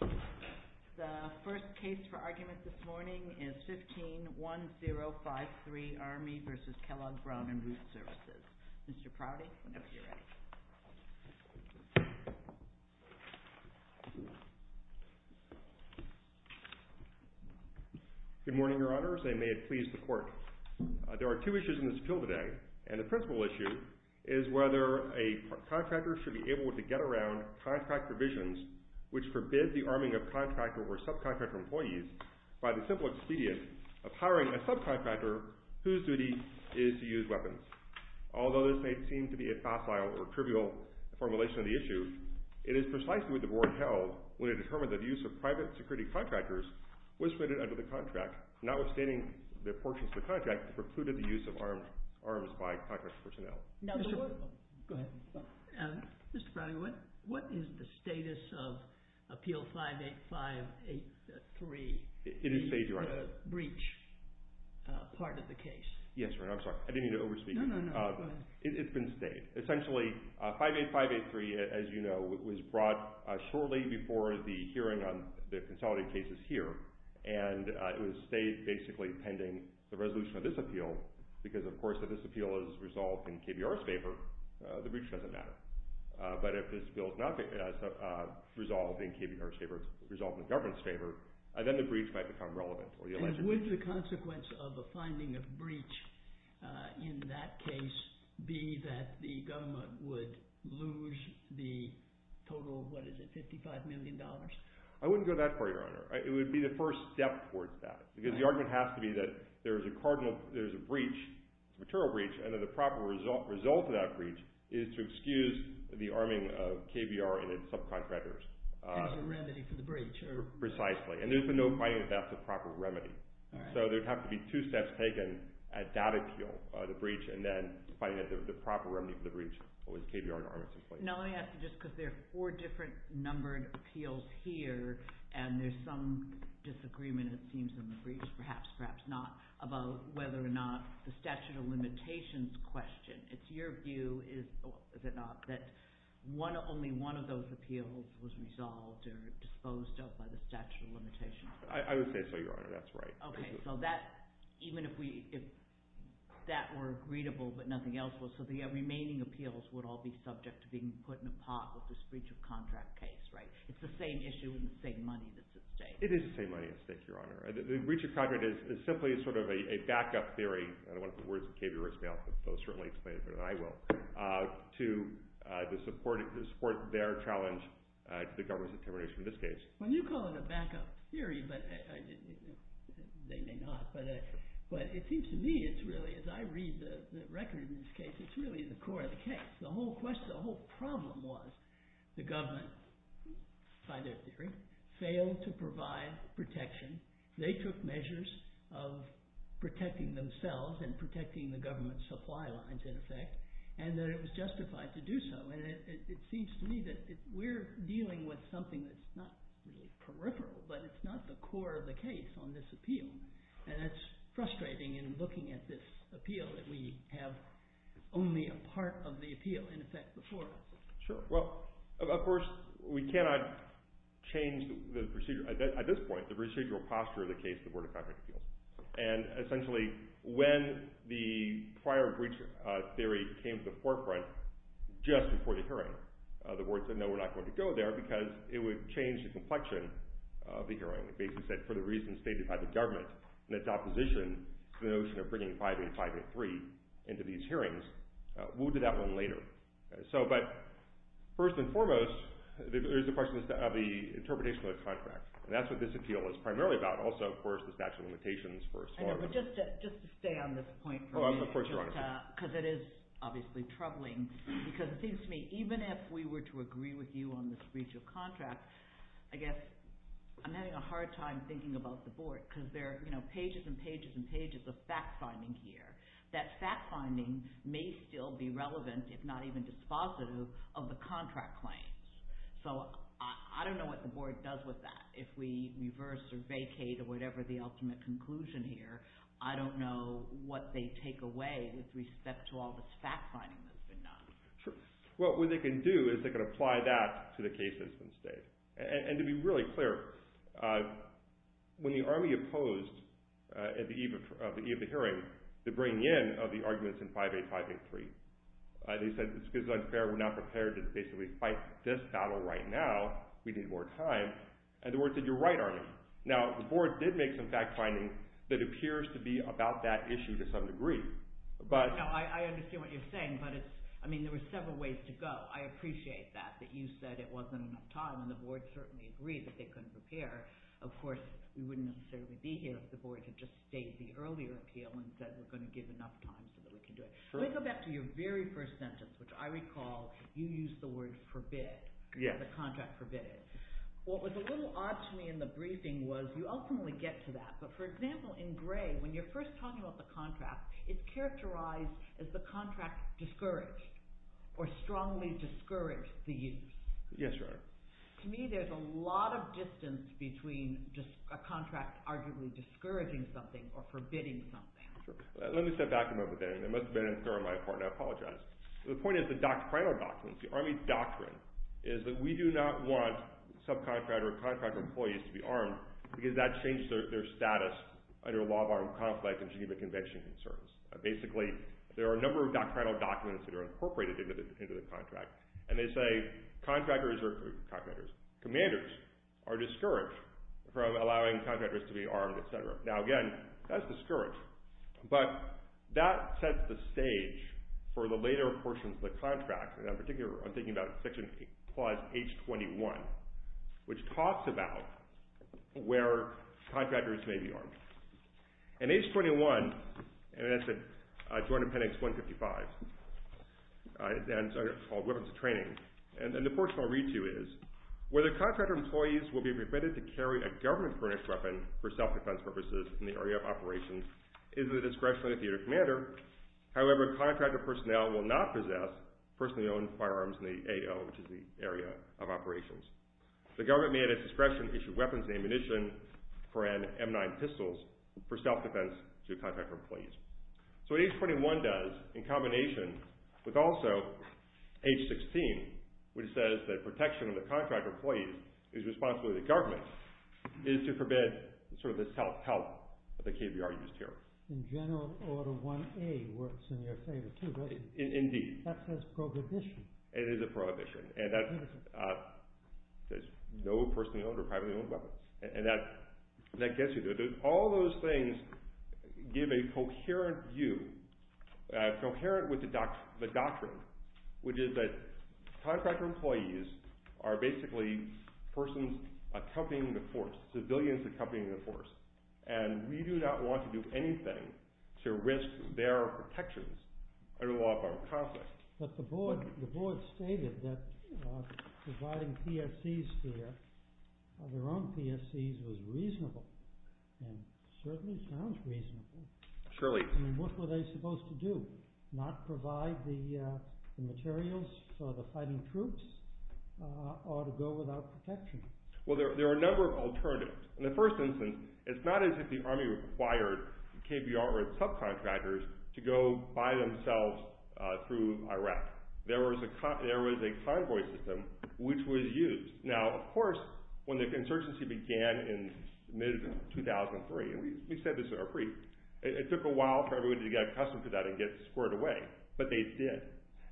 The first case for argument this morning is 15-1053, Army v. Kellogg Brown & Root Services. Mr. Prouty, whenever you're ready. Good morning, Your Honors, and may it please the Court. There are two issues in this appeal today, and the principal issue is whether a contractor should be able to get around contract provisions which forbid the arming of contractor or subcontractor employees by the simple expedient of hiring a subcontractor whose duty is to use weapons. Although this may seem to be a facile or trivial formulation of the issue, it is precisely what the Board held when it determined that the use of private security contractors was permitted under the contract, notwithstanding the portions of the contract that precluded the use of arms by contract personnel. Mr. Prouty, what is the status of Appeal 58583, the breach part of the case? Yes, Your Honor, I'm sorry. I didn't mean to over-speak. It's been stayed. Essentially, 58583, as you know, was brought shortly before the hearing on the consolidated cases here, and it was stayed basically pending the resolution of this appeal because, of course, if this appeal is resolved in KBR's favor, the breach doesn't matter. But if this bill is not resolved in KBR's favor, it's resolved in the government's favor, then the breach might become relevant. And would the consequence of a finding of breach in that case be that the government would lose the total of, what is it, $55 million? I wouldn't go that far, Your Honor. It would be the first step towards that because the argument has to be that there's a breach, a material breach, and that the proper result of that breach is to excuse the arming of KBR and its subcontractors. There's a remedy for the breach. Precisely. And there's been no finding that that's the proper remedy. So there would have to be two steps taken at that appeal, the breach, and then finding that the proper remedy for the breach was KBR to arm it simply. Now, let me ask you, just because there are four different numbered appeals here, and there's some disagreement, it seems, in the briefs, perhaps, perhaps not, about whether or not the statute of limitations question, it's your view, is it not, that only one of those appeals was resolved or disposed of by the statute of limitations? I would say so, Your Honor. That's right. Okay. So that, even if that were agreeable, but nothing else was, so the remaining appeals would all be subject to being put in a pot with this breach of contract case, right? It's the same issue and the same money that's at stake. It is the same money at stake, Your Honor. The breach of contract is simply sort of a backup theory. I don't want the words of KBR to smell, but they'll certainly explain it better than I will, to support their challenge to the government's determination in this case. Well, you call it a backup theory, but they may not, but it seems to me it's really, as I read the record in this case, it's really the core of the case. The whole question, the whole problem was the government, by their theory, failed to provide protection. They took measures of protecting themselves and protecting the government's supply lines, in effect, and that it was justified to do so, and it seems to me that we're dealing with something that's not really peripheral, but it's not the core of the case on this appeal, and that's frustrating in looking at this appeal that we have only a part of the appeal, in effect, before us. Sure. Well, of course, we cannot change, at this point, the procedural posture of the case of the Board of Contract Appeals, and essentially, when the prior breach theory came to the forefront, just before the hearing, the Board said, no, we're not going to go there because it would change the complexion of the hearing. It basically said, for the reasons stated by the government, and its opposition to the notion of bringing 585 and 583 into these hearings, we'll do that one later. So, but, first and foremost, there's the question of the interpretation of the contract, and that's what this appeal is primarily about. Also, of course, the statute of limitations, first of all. No, but just to stay on this point for a minute, because it is obviously troubling, because it seems to me, even if we were to agree with you on this breach of contract, I guess I'm having a hard time thinking about the Board, because there are pages and pages and pages of fact-finding here. That fact-finding may still be relevant, if not even dispositive, of the contract claims. So, I don't know what the Board does with that. If we reverse or vacate or whatever the ultimate conclusion here, I don't know what they take away with respect to all this fact-finding that's been done. Well, what they can do is they can apply that to the case that's been stated, and to be really clear, when the Army opposed, at the eve of the hearing, the bringing in of the arguments in 585 and 583, they said it's because it's unfair. We're not prepared to basically fight this battle right now. We need more time, and the Board said, you're right, Arnie. Now, the Board did make some fact-finding that appears to be about that issue to some degree. No, I understand what you're saying, but it's – I mean, there were several ways to go. I appreciate that, that you said it wasn't enough time, and the Board certainly agreed that they couldn't prepare. Of course, we wouldn't necessarily be here if the Board had just stated the earlier appeal and said we're going to give enough time so that we can do it. Let me go back to your very first sentence, which I recall you used the word forbid, the contract forbid. What was a little odd to me in the briefing was you ultimately get to that, but for example, in gray, when you're first talking about the contract, it's characterized as the contract discouraged or strongly discouraged the use. Yes, right. To me, there's a lot of distance between a contract arguably discouraging something or forbidding something. Let me step back a moment there. It must have been in there on my part, and I apologize. The point is the doctrinal documents, the Army doctrine, is that we do not want subcontractor or contractor employees to be armed because that changes their status under a law of armed conflict and Geneva Convention concerns. Basically, there are a number of doctrinal documents that are incorporated into the contract, and they say contractors are – commanders are discouraged from allowing contractors to be armed, et cetera. Now, again, that's discouraged, but that sets the stage for the later portions of the contract, and in particular, I'm thinking about section clause H21, which talks about where contractors may be armed. In H21, and that's the Joint Appendix 155, and it's called Weapons of Training, and the portion I'll read to you is, whether contractor employees will be permitted to carry a government-furnished weapon for self-defense purposes in the area of operations is in the discretion of the commander. However, contractor personnel will not possess personally-owned firearms in the AO, which is the area of operations. The government may, at its discretion, issue weapons and ammunition for M9 pistols for self-defense to contractor employees. So, what H21 does, in combination with also H16, which says that protection of the contractor employees is responsible to the government, is to forbid sort of the self-help that the KBR used here. In general, Order 1A works in your favor, too, right? Indeed. That says prohibition. It is a prohibition, and that says no personally-owned or privately-owned weapons, and that gets you to it. All those things give a coherent view, coherent with the doctrine, which is that contractor employees are basically persons accompanying the force, civilians accompanying the force, and we do not want to do anything to risk their protections under the law of armed conflict. But the board stated that providing PFCs here, their own PFCs, was reasonable, and certainly sounds reasonable. Surely. And what were they supposed to do? Not provide the materials for the fighting troops, or to go without protection? Well, there are a number of alternatives. In the first instance, it's not as if the Army required KBR or its subcontractors to go by themselves through Iraq. There was a convoy system which was used. Now, of course, when the insurgency began in mid-2003, and we said this in our brief, it took a while for everybody to get accustomed to that and get squared away, but they did.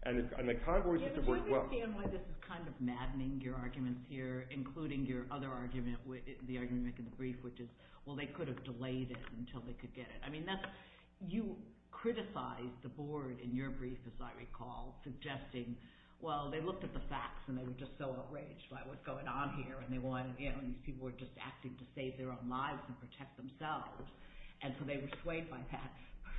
Yeah, but I understand why this is kind of maddening, your arguments here, including your other argument, the argument you make in the brief, which is, well, they could have delayed it until they could get it. I mean, you criticized the board in your brief, as I recall, suggesting, well, they looked at the facts and they were just so outraged by what's going on here, and these people were just acting to save their own lives and protect themselves, and so they were swayed by that.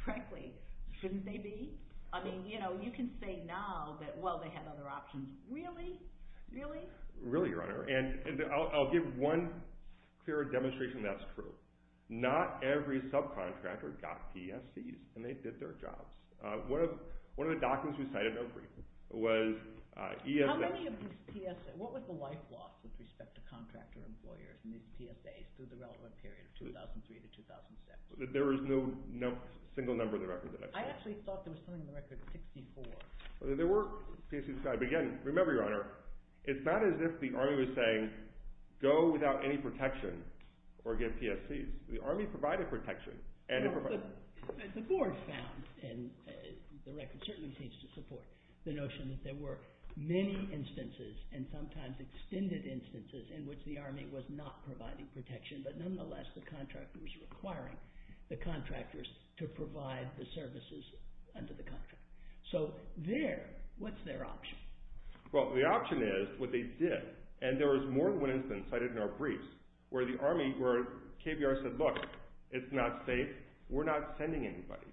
Frankly, shouldn't they be? I mean, you know, you can say now that, well, they have other options. Really? Really? Really, your Honor, and I'll give one clear demonstration that's true. Not every subcontractor got PSCs, and they did their jobs. One of the documents we cited in our brief was ESS. How many of these PSAs – what was the life loss with respect to contractor employers in these PSAs through the relevant period of 2003 to 2006? There is no single number in the record that I've cited. I actually thought there was something in the record of 64. There were PSCs, but again, remember, your Honor, it's not as if the Army was saying go without any protection or give PSCs. The Army provided protection and it provided – Well, the board found, and the record certainly seems to support the notion that there were many instances and sometimes extended instances in which the Army was not providing protection, but nonetheless the contractor was requiring the contractors to provide the services under the contract. So there, what's their option? Well, the option is what they did, and there was more than one instance cited in our briefs where the Army – where KBR said, look, it's not safe. We're not sending anybody.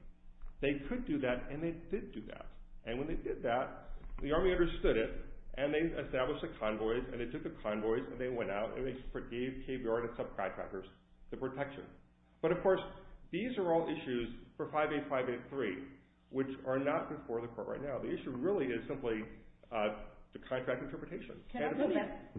They could do that, and they did do that. And when they did that, the Army understood it, and they established a convoy, and they took the convoys, and they went out, and they gave KBR and its subcontractors the protection. But of course, these are all issues for 58583, which are not before the court right now. The issue really is simply the contract interpretation. Can I go back?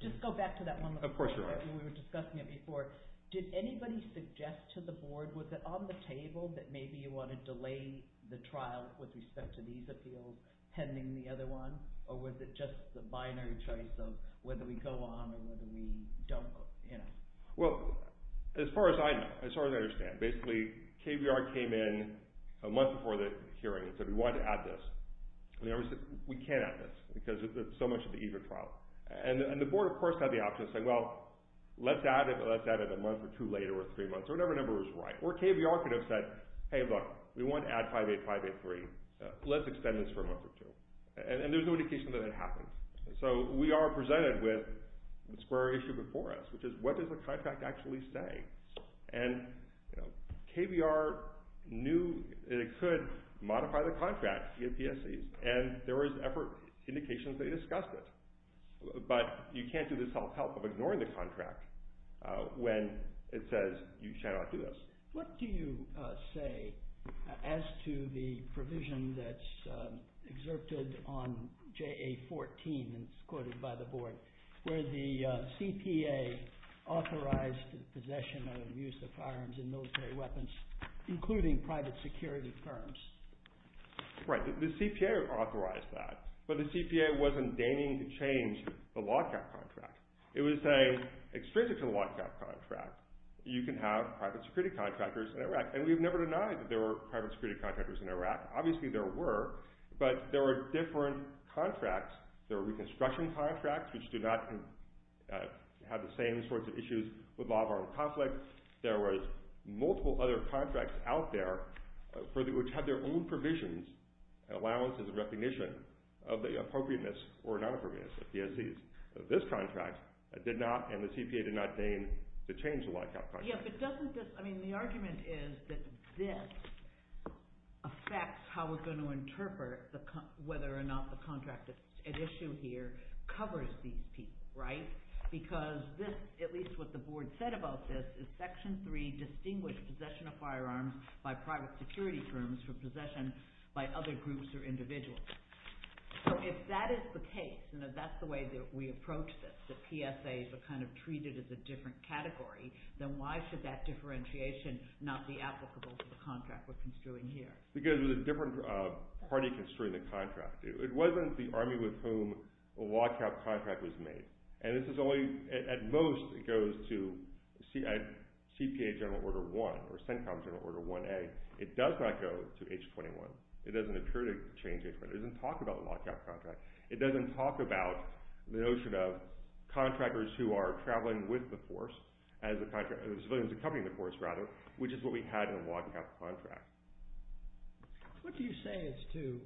Just go back to that one. Of course, Your Honor. We were discussing it before. Did anybody suggest to the Board, was it on the table that maybe you want to delay the trial with respect to these appeals pending the other one, or was it just the binary choice of whether we go on or whether we don't? Well, as far as I know, as far as I understand, basically KBR came in a month before the hearing and said we wanted to add this. And the Army said we can't add this because it's so much at the ease of trial. And the Board, of course, had the option to say, well, let's add it, but let's add it a month or two later or three months, or whatever number was right. Or KBR could have said, hey, look, we want to add 58583. Let's extend this for a month or two. And there's no indication that it happened. So we are presented with the square issue before us, which is what does the contract actually say? And KBR knew that it could modify the contract, the APSEs, and there was effort, indications they discussed it. But you can't do this self-help of ignoring the contract when it says you cannot do this. What do you say as to the provision that's exerted on JA-14, and it's quoted by the Board, where the CPA authorized possession and use of firearms and military weapons, including private security firms? Right. The CPA authorized that. But the CPA wasn't deigning to change the lockout contract. It was saying, extrinsic to the lockout contract, you can have private security contractors in Iraq. And we've never denied that there were private security contractors in Iraq. Obviously, there were, but there were different contracts. There were reconstruction contracts, which do not have the same sorts of issues with law of armed conflict. There were multiple other contracts out there, which had their own provisions, allowances, and recognition of the appropriateness or non-appropriateness of the APSEs. This contract did not, and the CPA did not deign to change the lockout contract. Yeah, but doesn't this—I mean, the argument is that this affects how we're going to interpret whether or not the contract at issue here covers these people, right? Because this, at least what the Board said about this, is Section 3, Distinguished Possession of Firearms by Private Security Firms for Possession by Other Groups or Individuals. So, if that is the case, and if that's the way that we approach this, the PSAs are kind of treated as a different category, then why should that differentiation not be applicable to the contract we're construing here? Because it was a different party construing the contract. It wasn't the Army with whom a lockout contract was made. And this is only—at most, it goes to CPA General Order 1 or CENTCOM General Order 1A. It does not go to H-21. It doesn't occur to change H-21. It doesn't talk about the lockout contract. It doesn't talk about the notion of contractors who are traveling with the force as the contract—the civilians accompanying the force, rather, which is what we had in the lockout contract. What do you say as to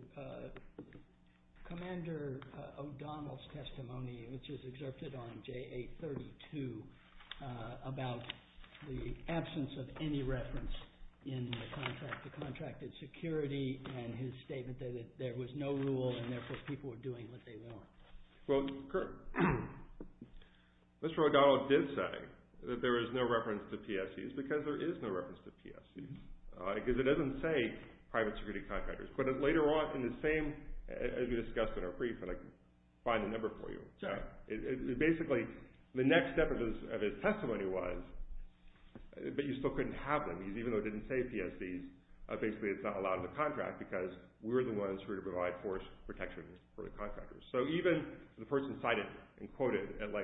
Commander O'Donnell's testimony, which is exerted on JA-32, about the absence of any reference in the contract to contracted security and his statement that there was no rule and, therefore, people were doing what they were. Well, Mr. O'Donnell did say that there is no reference to PSAs because there is no reference to PSAs. Because it doesn't say private security contractors. But later on, in the same—as we discussed in our brief, and I can find the number for you—basically, the next step of his testimony was, but you still couldn't have them because even though it didn't say PSAs, basically, it's not allowed in the contract because we're the ones who are to provide force protection for the contractors. So even the person cited and quoted by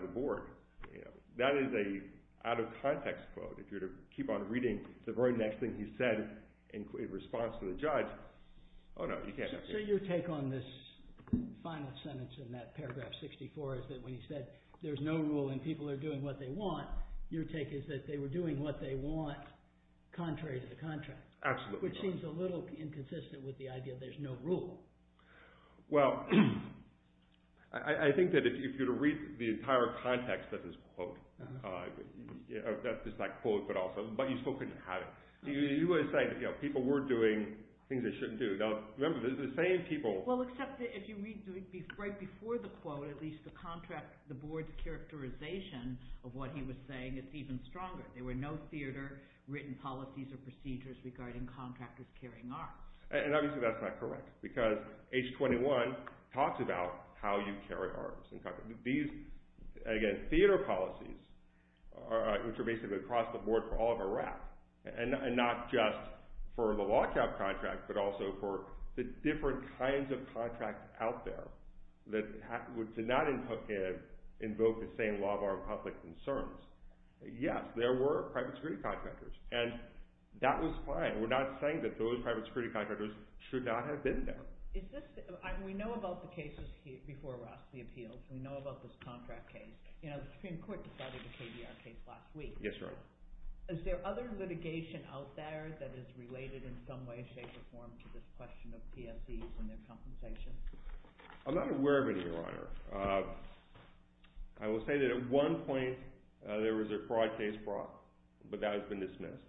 the board, that is an out-of-context quote. If you're to keep on reading the very next thing he said in response to the judge, oh, no, you can't— So your take on this final sentence in that paragraph 64 is that when he said there's no rule and people are doing what they want, your take is that they were doing what they want contrary to the contract. Absolutely. Which seems a little inconsistent with the idea there's no rule. Well, I think that if you were to read the entire context of this quote—that's just that quote, but also—but you still couldn't have it. You would say that people were doing things they shouldn't do. Now, remember, the same people— Well, except that if you read right before the quote, at least the board's characterization of what he was saying is even stronger. There were no theater-written policies or procedures regarding contractors carrying arms. And obviously that's not correct, because H-21 talks about how you carry arms. These, again, theater policies, which are basically across the board for all of Iraq, and not just for the lockout contract, but also for the different kinds of contracts out there that did not invoke the same law of armed conflict concerns. Yes, there were private security contractors, and that was fine. We're not saying that those private security contractors should not have been there. Is this—we know about the cases before Rossley Appeals. We know about this contract case. The Supreme Court decided the KDR case last week. Yes, Your Honor. Is there other litigation out there that is related in some way, shape, or form to this question of PSEs and their compensation? I'm not aware of any, Your Honor. I will say that at one point there was a fraud case brought, but that has been dismissed.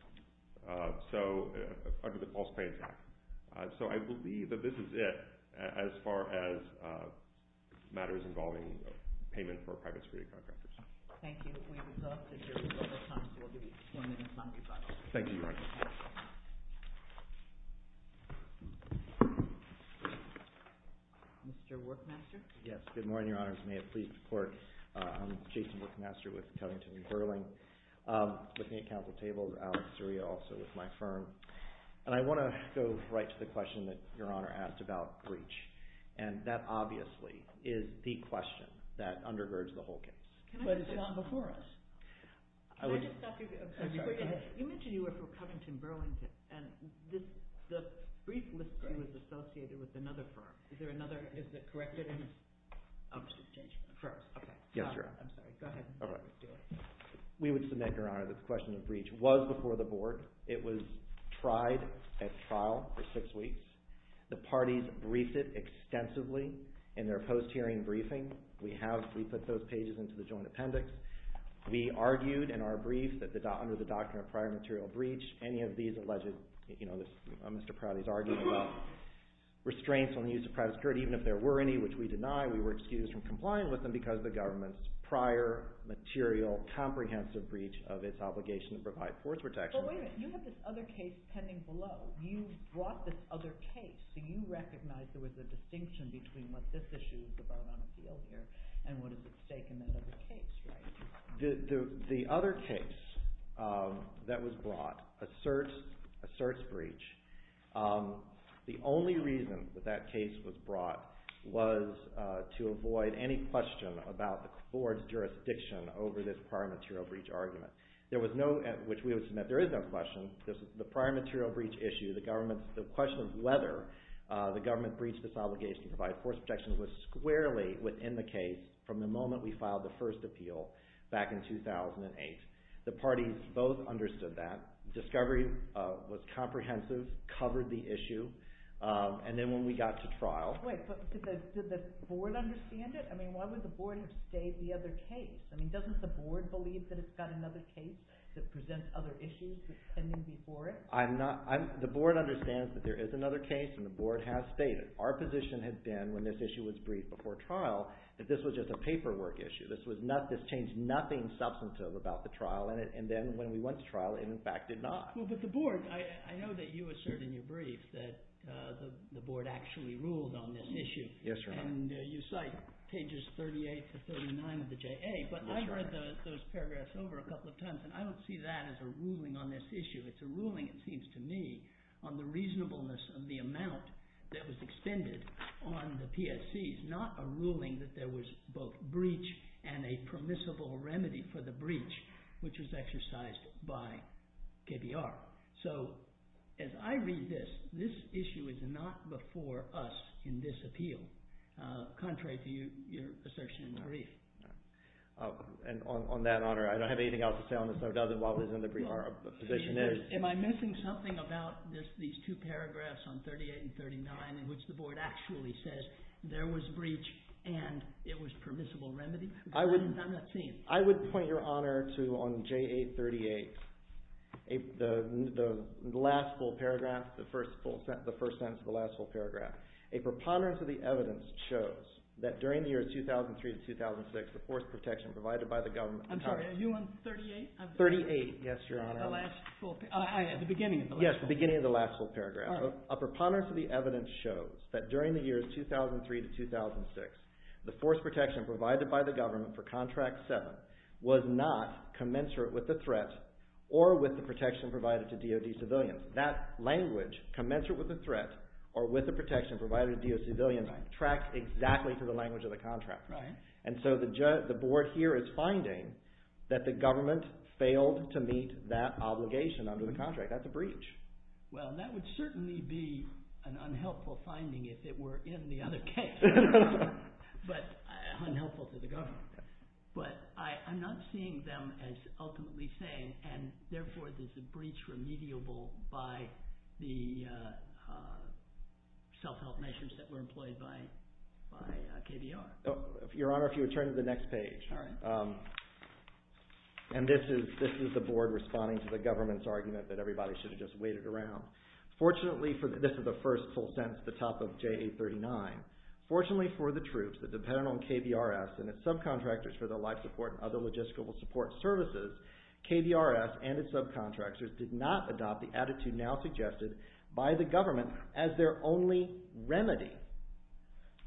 So—under the False Paying Act. So I believe that this is it as far as matters involving payment for private security contractors. Thank you. We would love to hear from you at other times. We'll be joining you in a moment. Thank you, Your Honor. Mr. Workmaster? Yes. Good morning, Your Honors. May it please the Court. I'm Jason Workmaster with Cunnington & Burling. I'm looking at counsel tables. Alex Seria also with my firm. And I want to go right to the question that Your Honor asked about breach. And that obviously is the question that undergirds the whole case. But it's the one before us. I would— Can I just ask you— I'm sorry. Go ahead. You mentioned you were for Cunnington & Burlington. And this—the brief listing was associated with another firm. Is there another— Is it corrected? I'm just exchanging—first. Okay. Yes, Your Honor. I'm sorry. Go ahead. We would submit, Your Honor, that the question of breach was before the Board. It was tried at trial for six weeks. The parties briefed it extensively in their post-hearing briefing. We have—we put those pages into the joint appendix. We argued in our brief that under the doctrine of prior material breach, any of these alleged—you know, Mr. Prouty's argument about restraints on the use of private security, even if there were any which we deny, we were excused from complying with them because of the government's prior material, comprehensive breach of its obligation to provide force protection. But wait a minute. You have this other case pending below. You brought this other case, so you recognize there was a distinction between what this issue is about on appeal here and what is at stake in that other case, right? The other case that was brought asserts breach. The only reason that that case was brought was to avoid any question about the Board's jurisdiction over this prior material breach argument, which we would submit there is no question. The prior material breach issue, the question of whether the government breached its obligation to provide force protection was squarely within the case from the moment we filed the first appeal back in 2008. The parties both understood that. Discovery was comprehensive, covered the issue, and then when we got to trial— Wait, but did the Board understand it? I mean, why would the Board have stayed the other case? I mean, doesn't the Board believe that it's got another case that presents other issues that's pending before it? I'm not—the Board understands that there is another case, and the Board has stayed it. Our position had been, when this issue was briefed before trial, that this was just a paperwork issue. This changed nothing substantive about the trial, and then when we went to trial, it in fact did not. Well, but the Board—I know that you assert in your brief that the Board actually ruled on this issue. Yes, Your Honor. And you cite pages 38 to 39 of the JA, but I read those paragraphs over a couple of times, and I don't see that as a ruling on this issue. It's a ruling, it seems to me, on the reasonableness of the amount that was extended on the PSCs, not a ruling that there was both breach and a permissible remedy for the breach, which was exercised by KBR. So, as I read this, this issue is not before us in this appeal, contrary to your assertion in the brief. And on that, Your Honor, I don't have anything else to say on this, other than what was in the brief our position is. Am I missing something about these two paragraphs on 38 and 39, in which the Board actually says there was breach and it was permissible remedy? I'm not seeing it. I would point Your Honor to on JA 38, the last full paragraph, the first sentence of the last full paragraph, a preponderance of the evidence shows that during the years 2003 to 2006, the force protection provided by the government… I'm sorry, are you on 38? 38, yes, Your Honor. At the beginning of the last full paragraph. Yes, the beginning of the last full paragraph. A preponderance of the evidence shows that during the years 2003 to 2006, the force protection provided by the government for Contract 7 was not commensurate with the threat or with the protection provided to DOD civilians. That language, commensurate with the threat or with the protection provided to DOD civilians, tracks exactly to the language of the contract. And so the Board here is finding that the government failed to meet that obligation under the contract. That's a breach. Well, that would certainly be an unhelpful finding if it were in the other case. But unhelpful to the government. But I'm not seeing them as ultimately saying, and therefore there's a breach remediable by the self-help measures that were employed by KBR. Your Honor, if you would turn to the next page. All right. And this is the Board responding to the government's argument that everybody should have just waited around. Fortunately, this is the first full sentence at the top of JA 39. Fortunately for the troops that depended on KBRS and its subcontractors for their life support and other logistical support services, KBRS and its subcontractors did not adopt the attitude now suggested by the government as their only remedy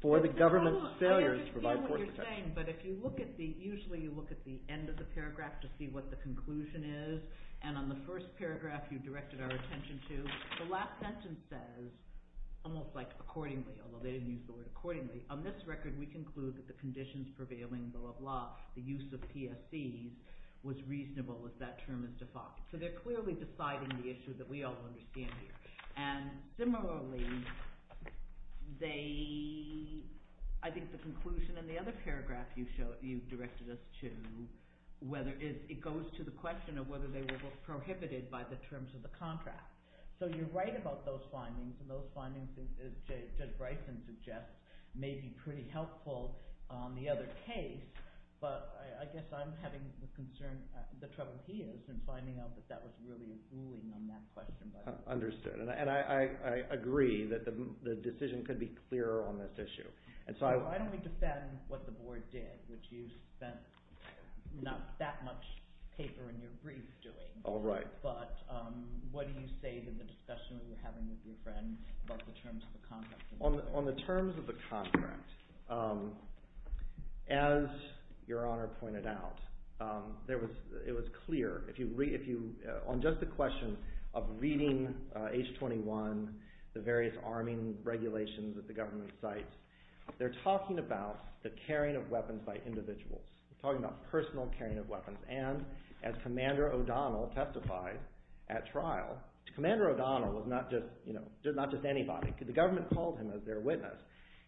for the government's failures to provide force protection. I understand what you're saying, but if you look at the, usually you look at the end of the paragraph to see what the conclusion is, and on the first paragraph you directed our attention to, the last sentence says, almost like accordingly, although they didn't use the word accordingly, on this record we conclude that the conditions prevailing, blah, blah, blah, the use of PSCs was reasonable if that term is defined. So they're clearly deciding the issue that we all understand here. And similarly, they, I think the conclusion in the other paragraph you directed us to, whether it goes to the question of whether they were prohibited by the terms of the contract. So you're right about those findings, and those findings, as Judge Bryson suggests, may be pretty helpful on the other case, but I guess I'm having the concern, the trouble he is, in finding out that that was really a ruling on that question. Understood. And I agree that the decision could be clearer on this issue. So I don't defend what the board did, which you spent not that much paper in your brief doing. All right. But what do you say to the discussion you're having with your friend about the terms of the contract? On the terms of the contract, as Your Honor pointed out, it was clear, on just the question of reading H-21, the various arming regulations that the government cites, they're talking about the carrying of weapons by individuals. They're talking about personal carrying of weapons. And as Commander O'Donnell testified at trial, Commander O'Donnell was not just anybody. The government called him as their witness.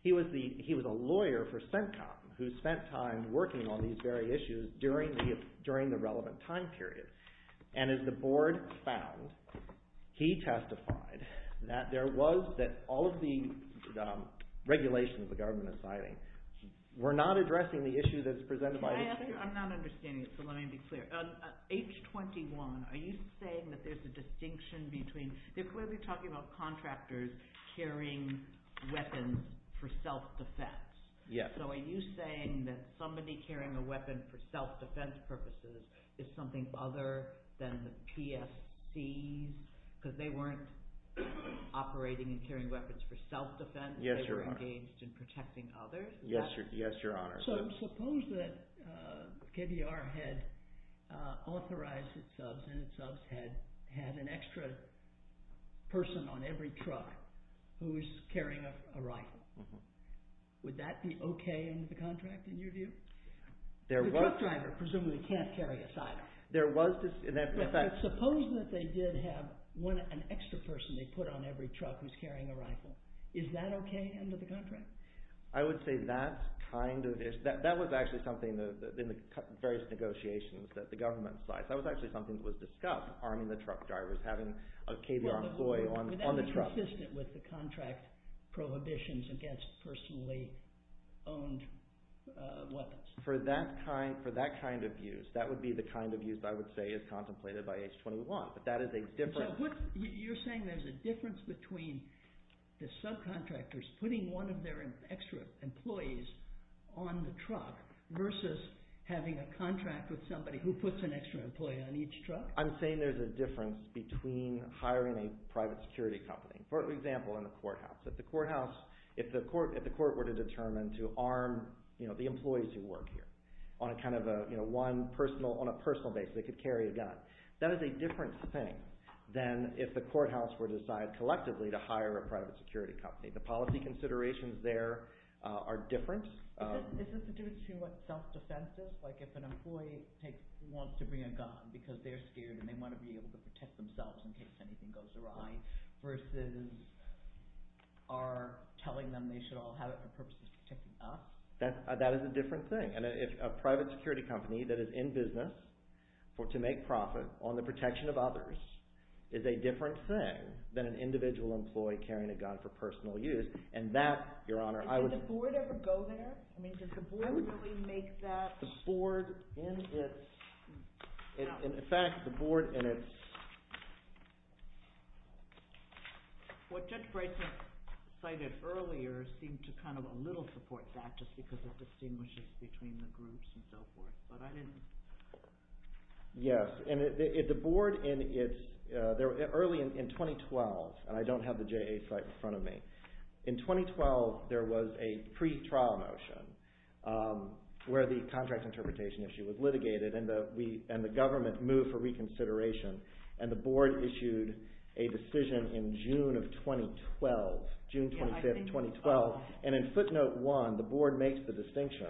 He was a lawyer for CENTCOM who spent time working on these very issues during the relevant time period. And as the board found, he testified that there was, that all of the regulations the government is citing were not addressing the issue that is presented by the state. I'm not understanding it, so let me be clear. H-21, are you saying that there's a distinction between – they're clearly talking about contractors carrying weapons for self-defense. Yes. So are you saying that somebody carrying a weapon for self-defense purposes is something other than the PSCs because they weren't operating and carrying weapons for self-defense? Yes, Your Honor. They were engaged in protecting others? Yes, Your Honor. So suppose that KBR had authorized its subs and its subs had an extra person on every truck who was carrying a rifle. Would that be okay under the contract in your view? The truck driver presumably can't carry a silo. There was – in fact – But suppose that they did have an extra person they put on every truck who's carrying a rifle. Is that okay under the contract? I would say that's kind of – that was actually something in the various negotiations that the government cites. That was actually something that was discussed, arming the truck drivers, having a KBR employee on the truck. Would that be consistent with the contract prohibitions against personally owned weapons? For that kind of use, that would be the kind of use I would say is contemplated by H-21. But that is a different – having extra employees on the truck versus having a contract with somebody who puts an extra employee on each truck? I'm saying there's a difference between hiring a private security company. For example, in the courthouse. If the courthouse – if the court were to determine to arm the employees who work here on a kind of a – on a personal basis, they could carry a gun. That is a different thing than if the courthouse were to decide collectively to hire a private security company. The policy considerations there are different. Is this to do with what self-defense is? Like if an employee wants to bring a gun because they're scared and they want to be able to protect themselves in case anything goes awry versus are telling them they should all have it for purposes of protecting us? That is a different thing. A private security company that is in business to make profit on the protection of others is a different thing than an individual employee carrying a gun for personal use. And that, Your Honor, I would – Does the board ever go there? I mean, does the board really make that – The board in its – in fact, the board in its – What Judge Braithwaite cited earlier seemed to kind of a little support that just because it distinguishes between the groups and so forth. But I didn't – Yes, and the board in its – early in 2012, and I don't have the JA site in front of me. In 2012, there was a pre-trial motion where the contract interpretation issue was litigated and the government moved for reconsideration. And the board issued a decision in June of 2012, June 25, 2012. And in footnote one, the board makes the distinction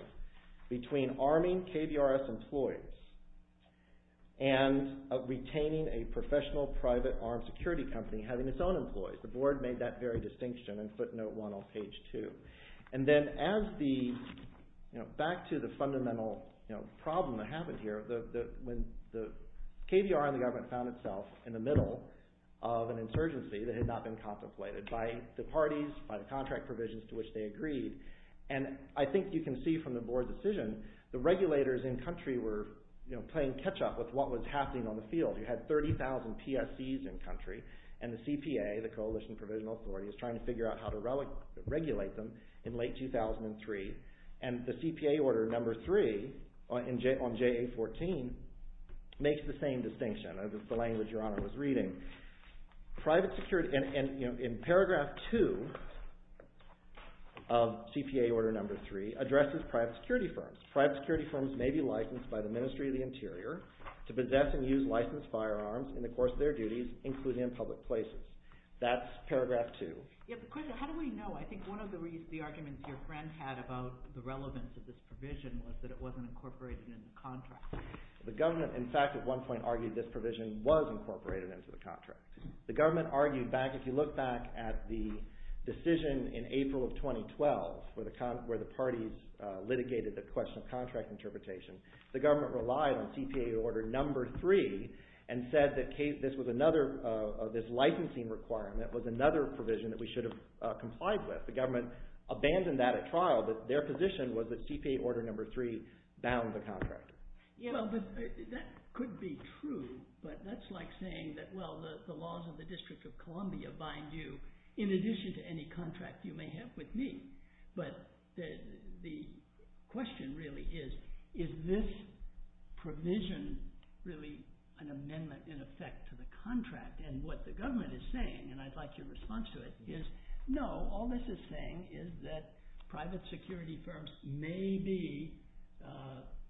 between arming KBRS employees and retaining a professional private armed security company having its own employees. The board made that very distinction in footnote one on page two. And then as the – back to the fundamental problem that happened here, when the KBR and the government found itself in the middle of an insurgency that had not been contemplated by the parties, by the contract provisions to which they agreed. And I think you can see from the board's decision the regulators in country were playing catch-up with what was happening on the field. You had 30,000 PSCs in country, and the CPA, the Coalition Provisional Authority, is trying to figure out how to regulate them in late 2003. And the CPA order number three on JA 14 makes the same distinction, the language Your Honor was reading. Private security, and in paragraph two of CPA order number three, addresses private security firms. Private security firms may be licensed by the Ministry of the Interior to possess and use licensed firearms in the course of their duties, including in public places. That's paragraph two. How do we know? I think one of the arguments your friend had about the relevance of this provision was that it wasn't incorporated in the contract. The government, in fact, at one point argued this provision was incorporated into the contract. The government argued back, if you look back at the decision in April of 2012, where the parties litigated the question of contract interpretation, the government relied on CPA order number three and said that this licensing requirement was another provision that we should have complied with. The government abandoned that at trial, but their position was that CPA order number three bound the contract. Well, that could be true, but that's like saying that, well, the laws of the District of Columbia bind you in addition to any contract you may have with me. But the question really is, is this provision really an amendment in effect to the contract? And what the government is saying, and I'd like your response to it, is, no, all this is saying is that private security firms may be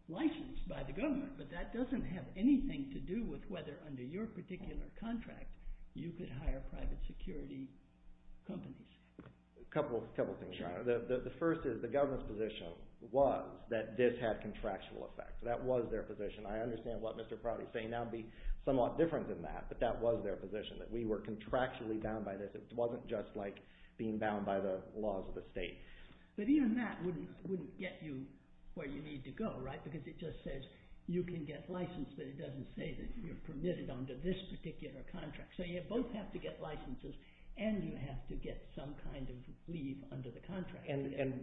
licensed by the government, but that doesn't have anything to do with whether under your particular contract you could hire private security companies. A couple of things. The first is the government's position was that this had contractual effect. That was their position. I understand what Mr. Prouty is saying now would be somewhat different than that, but that was their position, that we were contractually bound by this. It wasn't just like being bound by the laws of the state. But even that wouldn't get you where you need to go, right, because it just says you can get licensed, but it doesn't say that you're permitted under this particular contract. So you both have to get licenses and you have to get some kind of leave under the contract.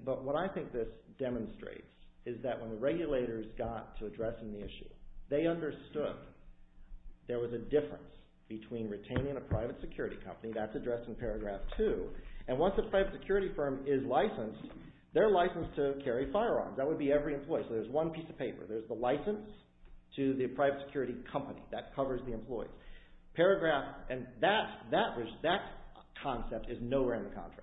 But what I think this demonstrates is that when the regulators got to addressing the issue, they understood there was a difference between retaining a private security company, that's addressed in paragraph two, and once a private security firm is licensed, they're licensed to carry firearms. That would be every employee. So there's one piece of paper. There's the license to the private security company. That covers the employee. Paragraph, and that concept is nowhere in the contract.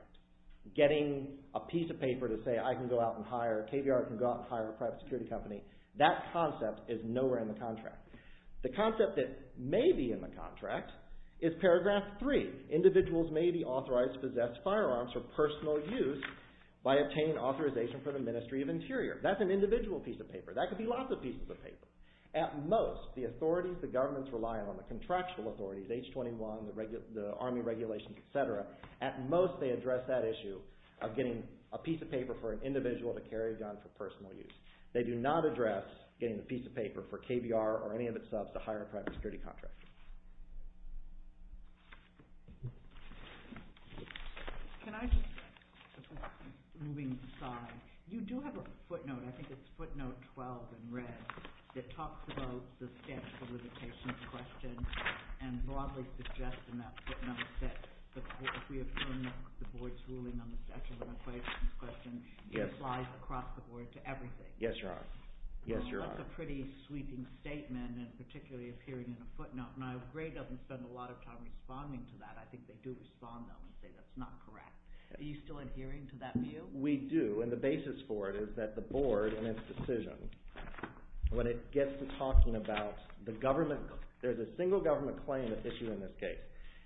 Getting a piece of paper to say I can go out and hire, KBR can go out and hire a private security company, that concept is nowhere in the contract. The concept that may be in the contract is paragraph three. Individuals may be authorized to possess firearms for personal use by obtaining authorization from the Ministry of Interior. That's an individual piece of paper. That could be lots of pieces of paper. At most, the authorities, the governments relying on, the contractual authorities, H-21, the Army regulations, et cetera, at most they address that issue of getting a piece of paper for an individual to carry a gun for personal use. They do not address getting a piece of paper for KBR or any of its subs to hire a private security contractor. Can I just, moving aside, you do have a footnote. I think it's footnote 12 in red that talks about the statute of limitations question and broadly suggests in that footnote that if we affirm the board's ruling on the statute of limitations question, it applies across the board to everything. Yes, Your Honor. Yes, Your Honor. That's a pretty sweeping statement and particularly appearing in a footnote. Now, Gray doesn't spend a lot of time responding to that. I think they do respond though and say that's not correct. Are you still adhering to that view? We do, and the basis for it is that the board in its decision, when it gets to talking about the government, there's a single government claim issue in this case.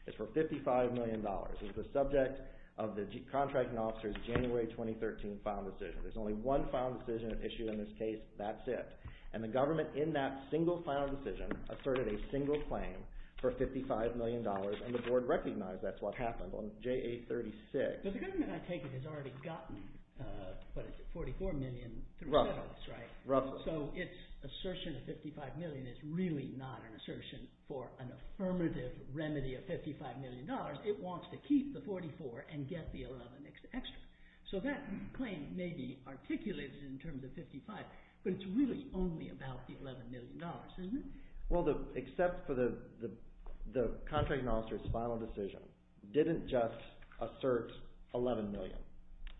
It's for $55 million. It's the subject of the contracting officer's January 2013 final decision. There's only one final decision issue in this case. That's it. And the government in that single final decision asserted a single claim for $55 million, and the board recognized that's what happened on JA-36. But the government, I take it, has already gotten, what is it, $44 million? Roughly. So its assertion of $55 million is really not an assertion for an affirmative remedy of $55 million. It wants to keep the $44 million and get the $11 million extra. So that claim may be articulated in terms of $55 million, but it's really only about the $11 million, isn't it? Well, except for the contracting officer's final decision didn't just assert $11 million.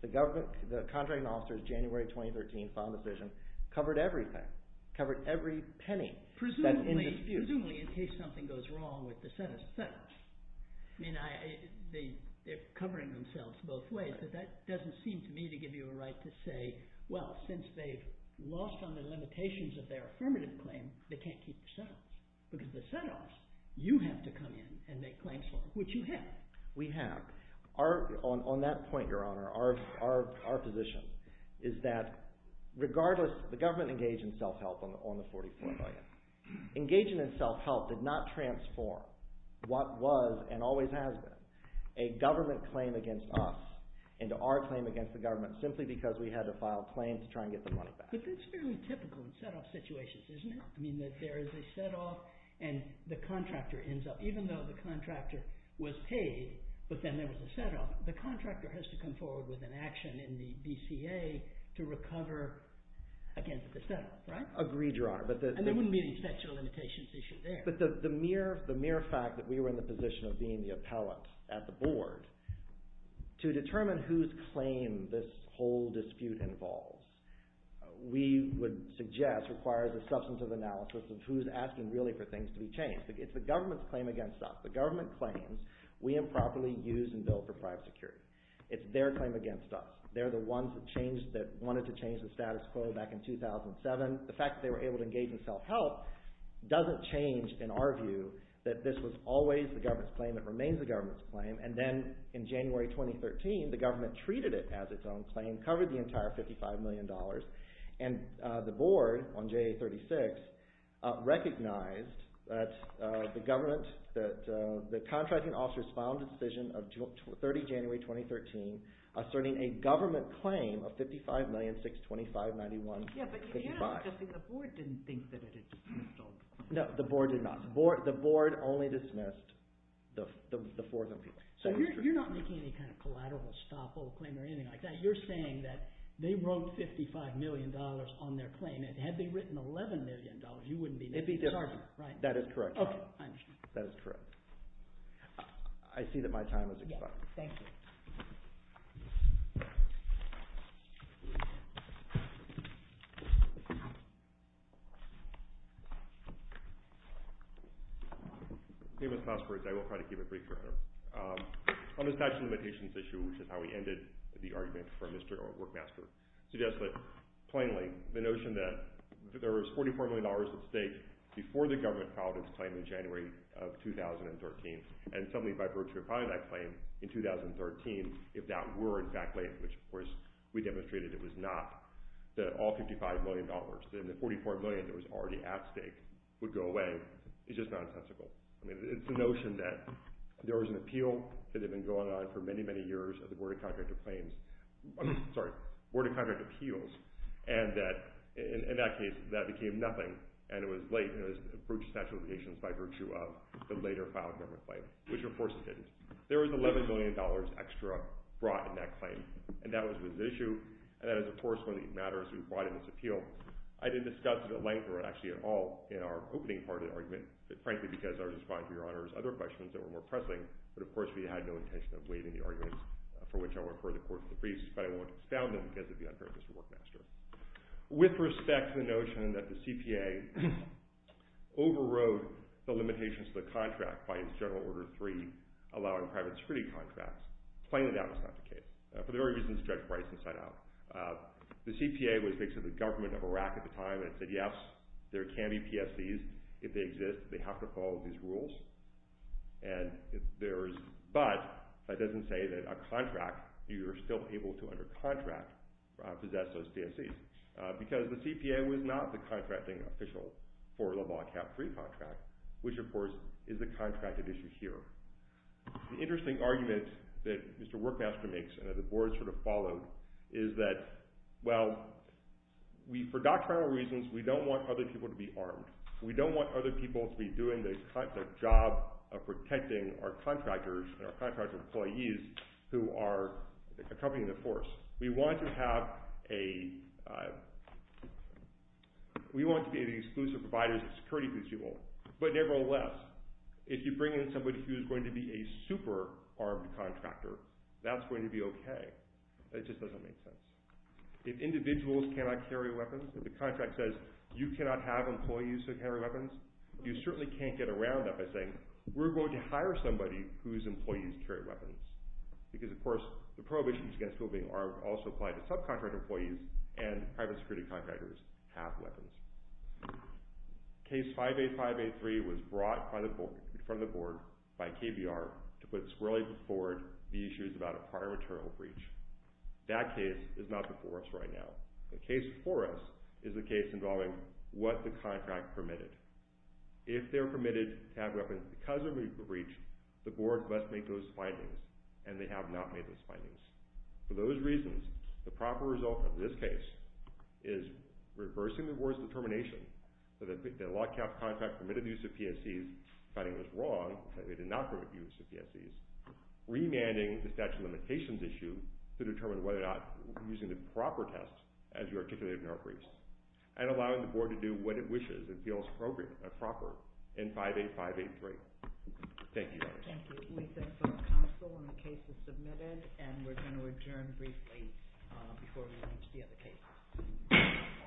The contracting officer's January 2013 final decision covered everything, covered every penny that's in dispute. Presumably in case something goes wrong with the set-offs. I mean, they're covering themselves both ways, but that doesn't seem to me to give you a right to say, well, since they've lost on the limitations of their affirmative claim, they can't keep the set-offs. Because the set-offs, you have to come in and make claims for them, which you have. We have. On that point, Your Honor, our position is that regardless, the government engaged in self-help on the $44 million. Engaging in self-help did not transform what was, and always has been, a government claim against us into our claim against the government simply because we had to file a claim to try and get the money back. But that's fairly typical in set-off situations, isn't it? I mean, that there is a set-off and the contractor ends up, even though the contractor was paid, but then there was a set-off, the contractor has to come forward with an action in the BCA to recover against the set-off, right? Agreed, Your Honor. And there wouldn't be any special limitations issue there. But the mere fact that we were in the position of being the appellate at the board to determine whose claim this whole dispute involves, we would suggest requires a substantive analysis of who's asking really for things to be changed. It's the government's claim against us. The government claims we improperly used and billed for private security. It's their claim against us. They're the ones that wanted to change the status quo back in 2007. The fact that they were able to engage in self-help doesn't change, in our view, that this was always the government's claim. It remains the government's claim. And then in January 2013, the government treated it as its own claim, covered the entire $55 million, and the board on JA-36 recognized that the government, that the contracting officers filed a decision of 30 January 2013 asserting a government claim of $55,000,625,9155. Yeah, but you're not suggesting the board didn't think that it had dismissed all the people. No, the board did not. The board only dismissed the four of them. So you're not making any kind of collateral stop-all claim or anything like that. You're saying that they wrote $55 million on their claim, and had they written $11 million, you wouldn't be making the charge. It'd be different. That is correct, Your Honor. Okay, I understand. That is correct. I see that my time has expired. Thank you. If you'll excuse me, I will try to keep it brief, Your Honor. On the statute of limitations issue, which is how we ended the argument for Mr. Workmaster, suggests that plainly the notion that there was $44 million at stake before the government filed its claim in January of 2013, and something by virtue of filing that claim in 2013, if that were in fact late, which of course we demonstrated it was not, that all $55 million, the $44 million that was already at stake, would go away, is just nonsensical. It's the notion that there was an appeal that had been going on for many, many years at the Board of Contract Appeals, and that in that case, that became nothing, and it was late, and it was a breach of statute of limitations by virtue of the later filed government claim, which of course it didn't. There was $11 million extra brought in that claim, and that was the issue, and that is, of course, one of the matters we brought in this appeal. I didn't discuss it at length, or actually at all, in our opening part of the argument, frankly because I was responding to Your Honor's other questions that were more pressing, but of course we had no intention of waiving the arguments for which I would refer the Court of Debriefs, but I won't astound them because of the unfairness of Workmaster. With respect to the notion that the CPA overrode the limitations of the contract by its General Order 3, allowing private security contracts, plainly that was not the case. For the very reason that Judge Bryson set out. The CPA was, basically, the government of Iraq at the time, and it said, yes, there can be PSCs. If they exist, they have to follow these rules, but that doesn't say that a contract, you're still able to, under contract, possess those PSCs, because the CPA was not the contracting official for Le Bon Cap 3 contract, which, of course, is a contracted issue here. The interesting argument that Mr. Workmaster makes, and that the Board sort of followed, is that, well, for doctrinal reasons, we don't want other people to be armed. We don't want other people to be doing the job of protecting our contractors and our contractor employees who are accompanying the force. We want to have a... We want to be an exclusive provider as a security principle, but nevertheless, if you bring in somebody who is going to be a super-armed contractor, that's going to be okay. It just doesn't make sense. If individuals cannot carry weapons, if the contract says, you cannot have employees who carry weapons, you certainly can't get around that by saying, we're going to hire somebody whose employees carry weapons, because, of course, the prohibitions against people being armed also apply to subcontractor employees, and private security contractors have weapons. Case 585A3 was brought in front of the Board by KBR to put squarely before it the issues about a prior maternal breach. That case is not before us right now. The case before us is the case involving what the contract permitted. If they're permitted to have weapons because of a breach, the Board must make those findings, and they have not made those findings. For those reasons, the proper result of this case is reversing the Board's determination that the lockout contract permitted the use of PSEs, finding it was wrong that they did not permit the use of PSEs, remanding the statute of limitations issue to determine whether or not using the proper test as you articulated in our briefs, and allowing the Board to do what it wishes and feels appropriate and proper in 585A3. Thank you. Thank you. We thank the Council on the cases submitted, and we're going to adjourn briefly before we reach the other cases. All rise.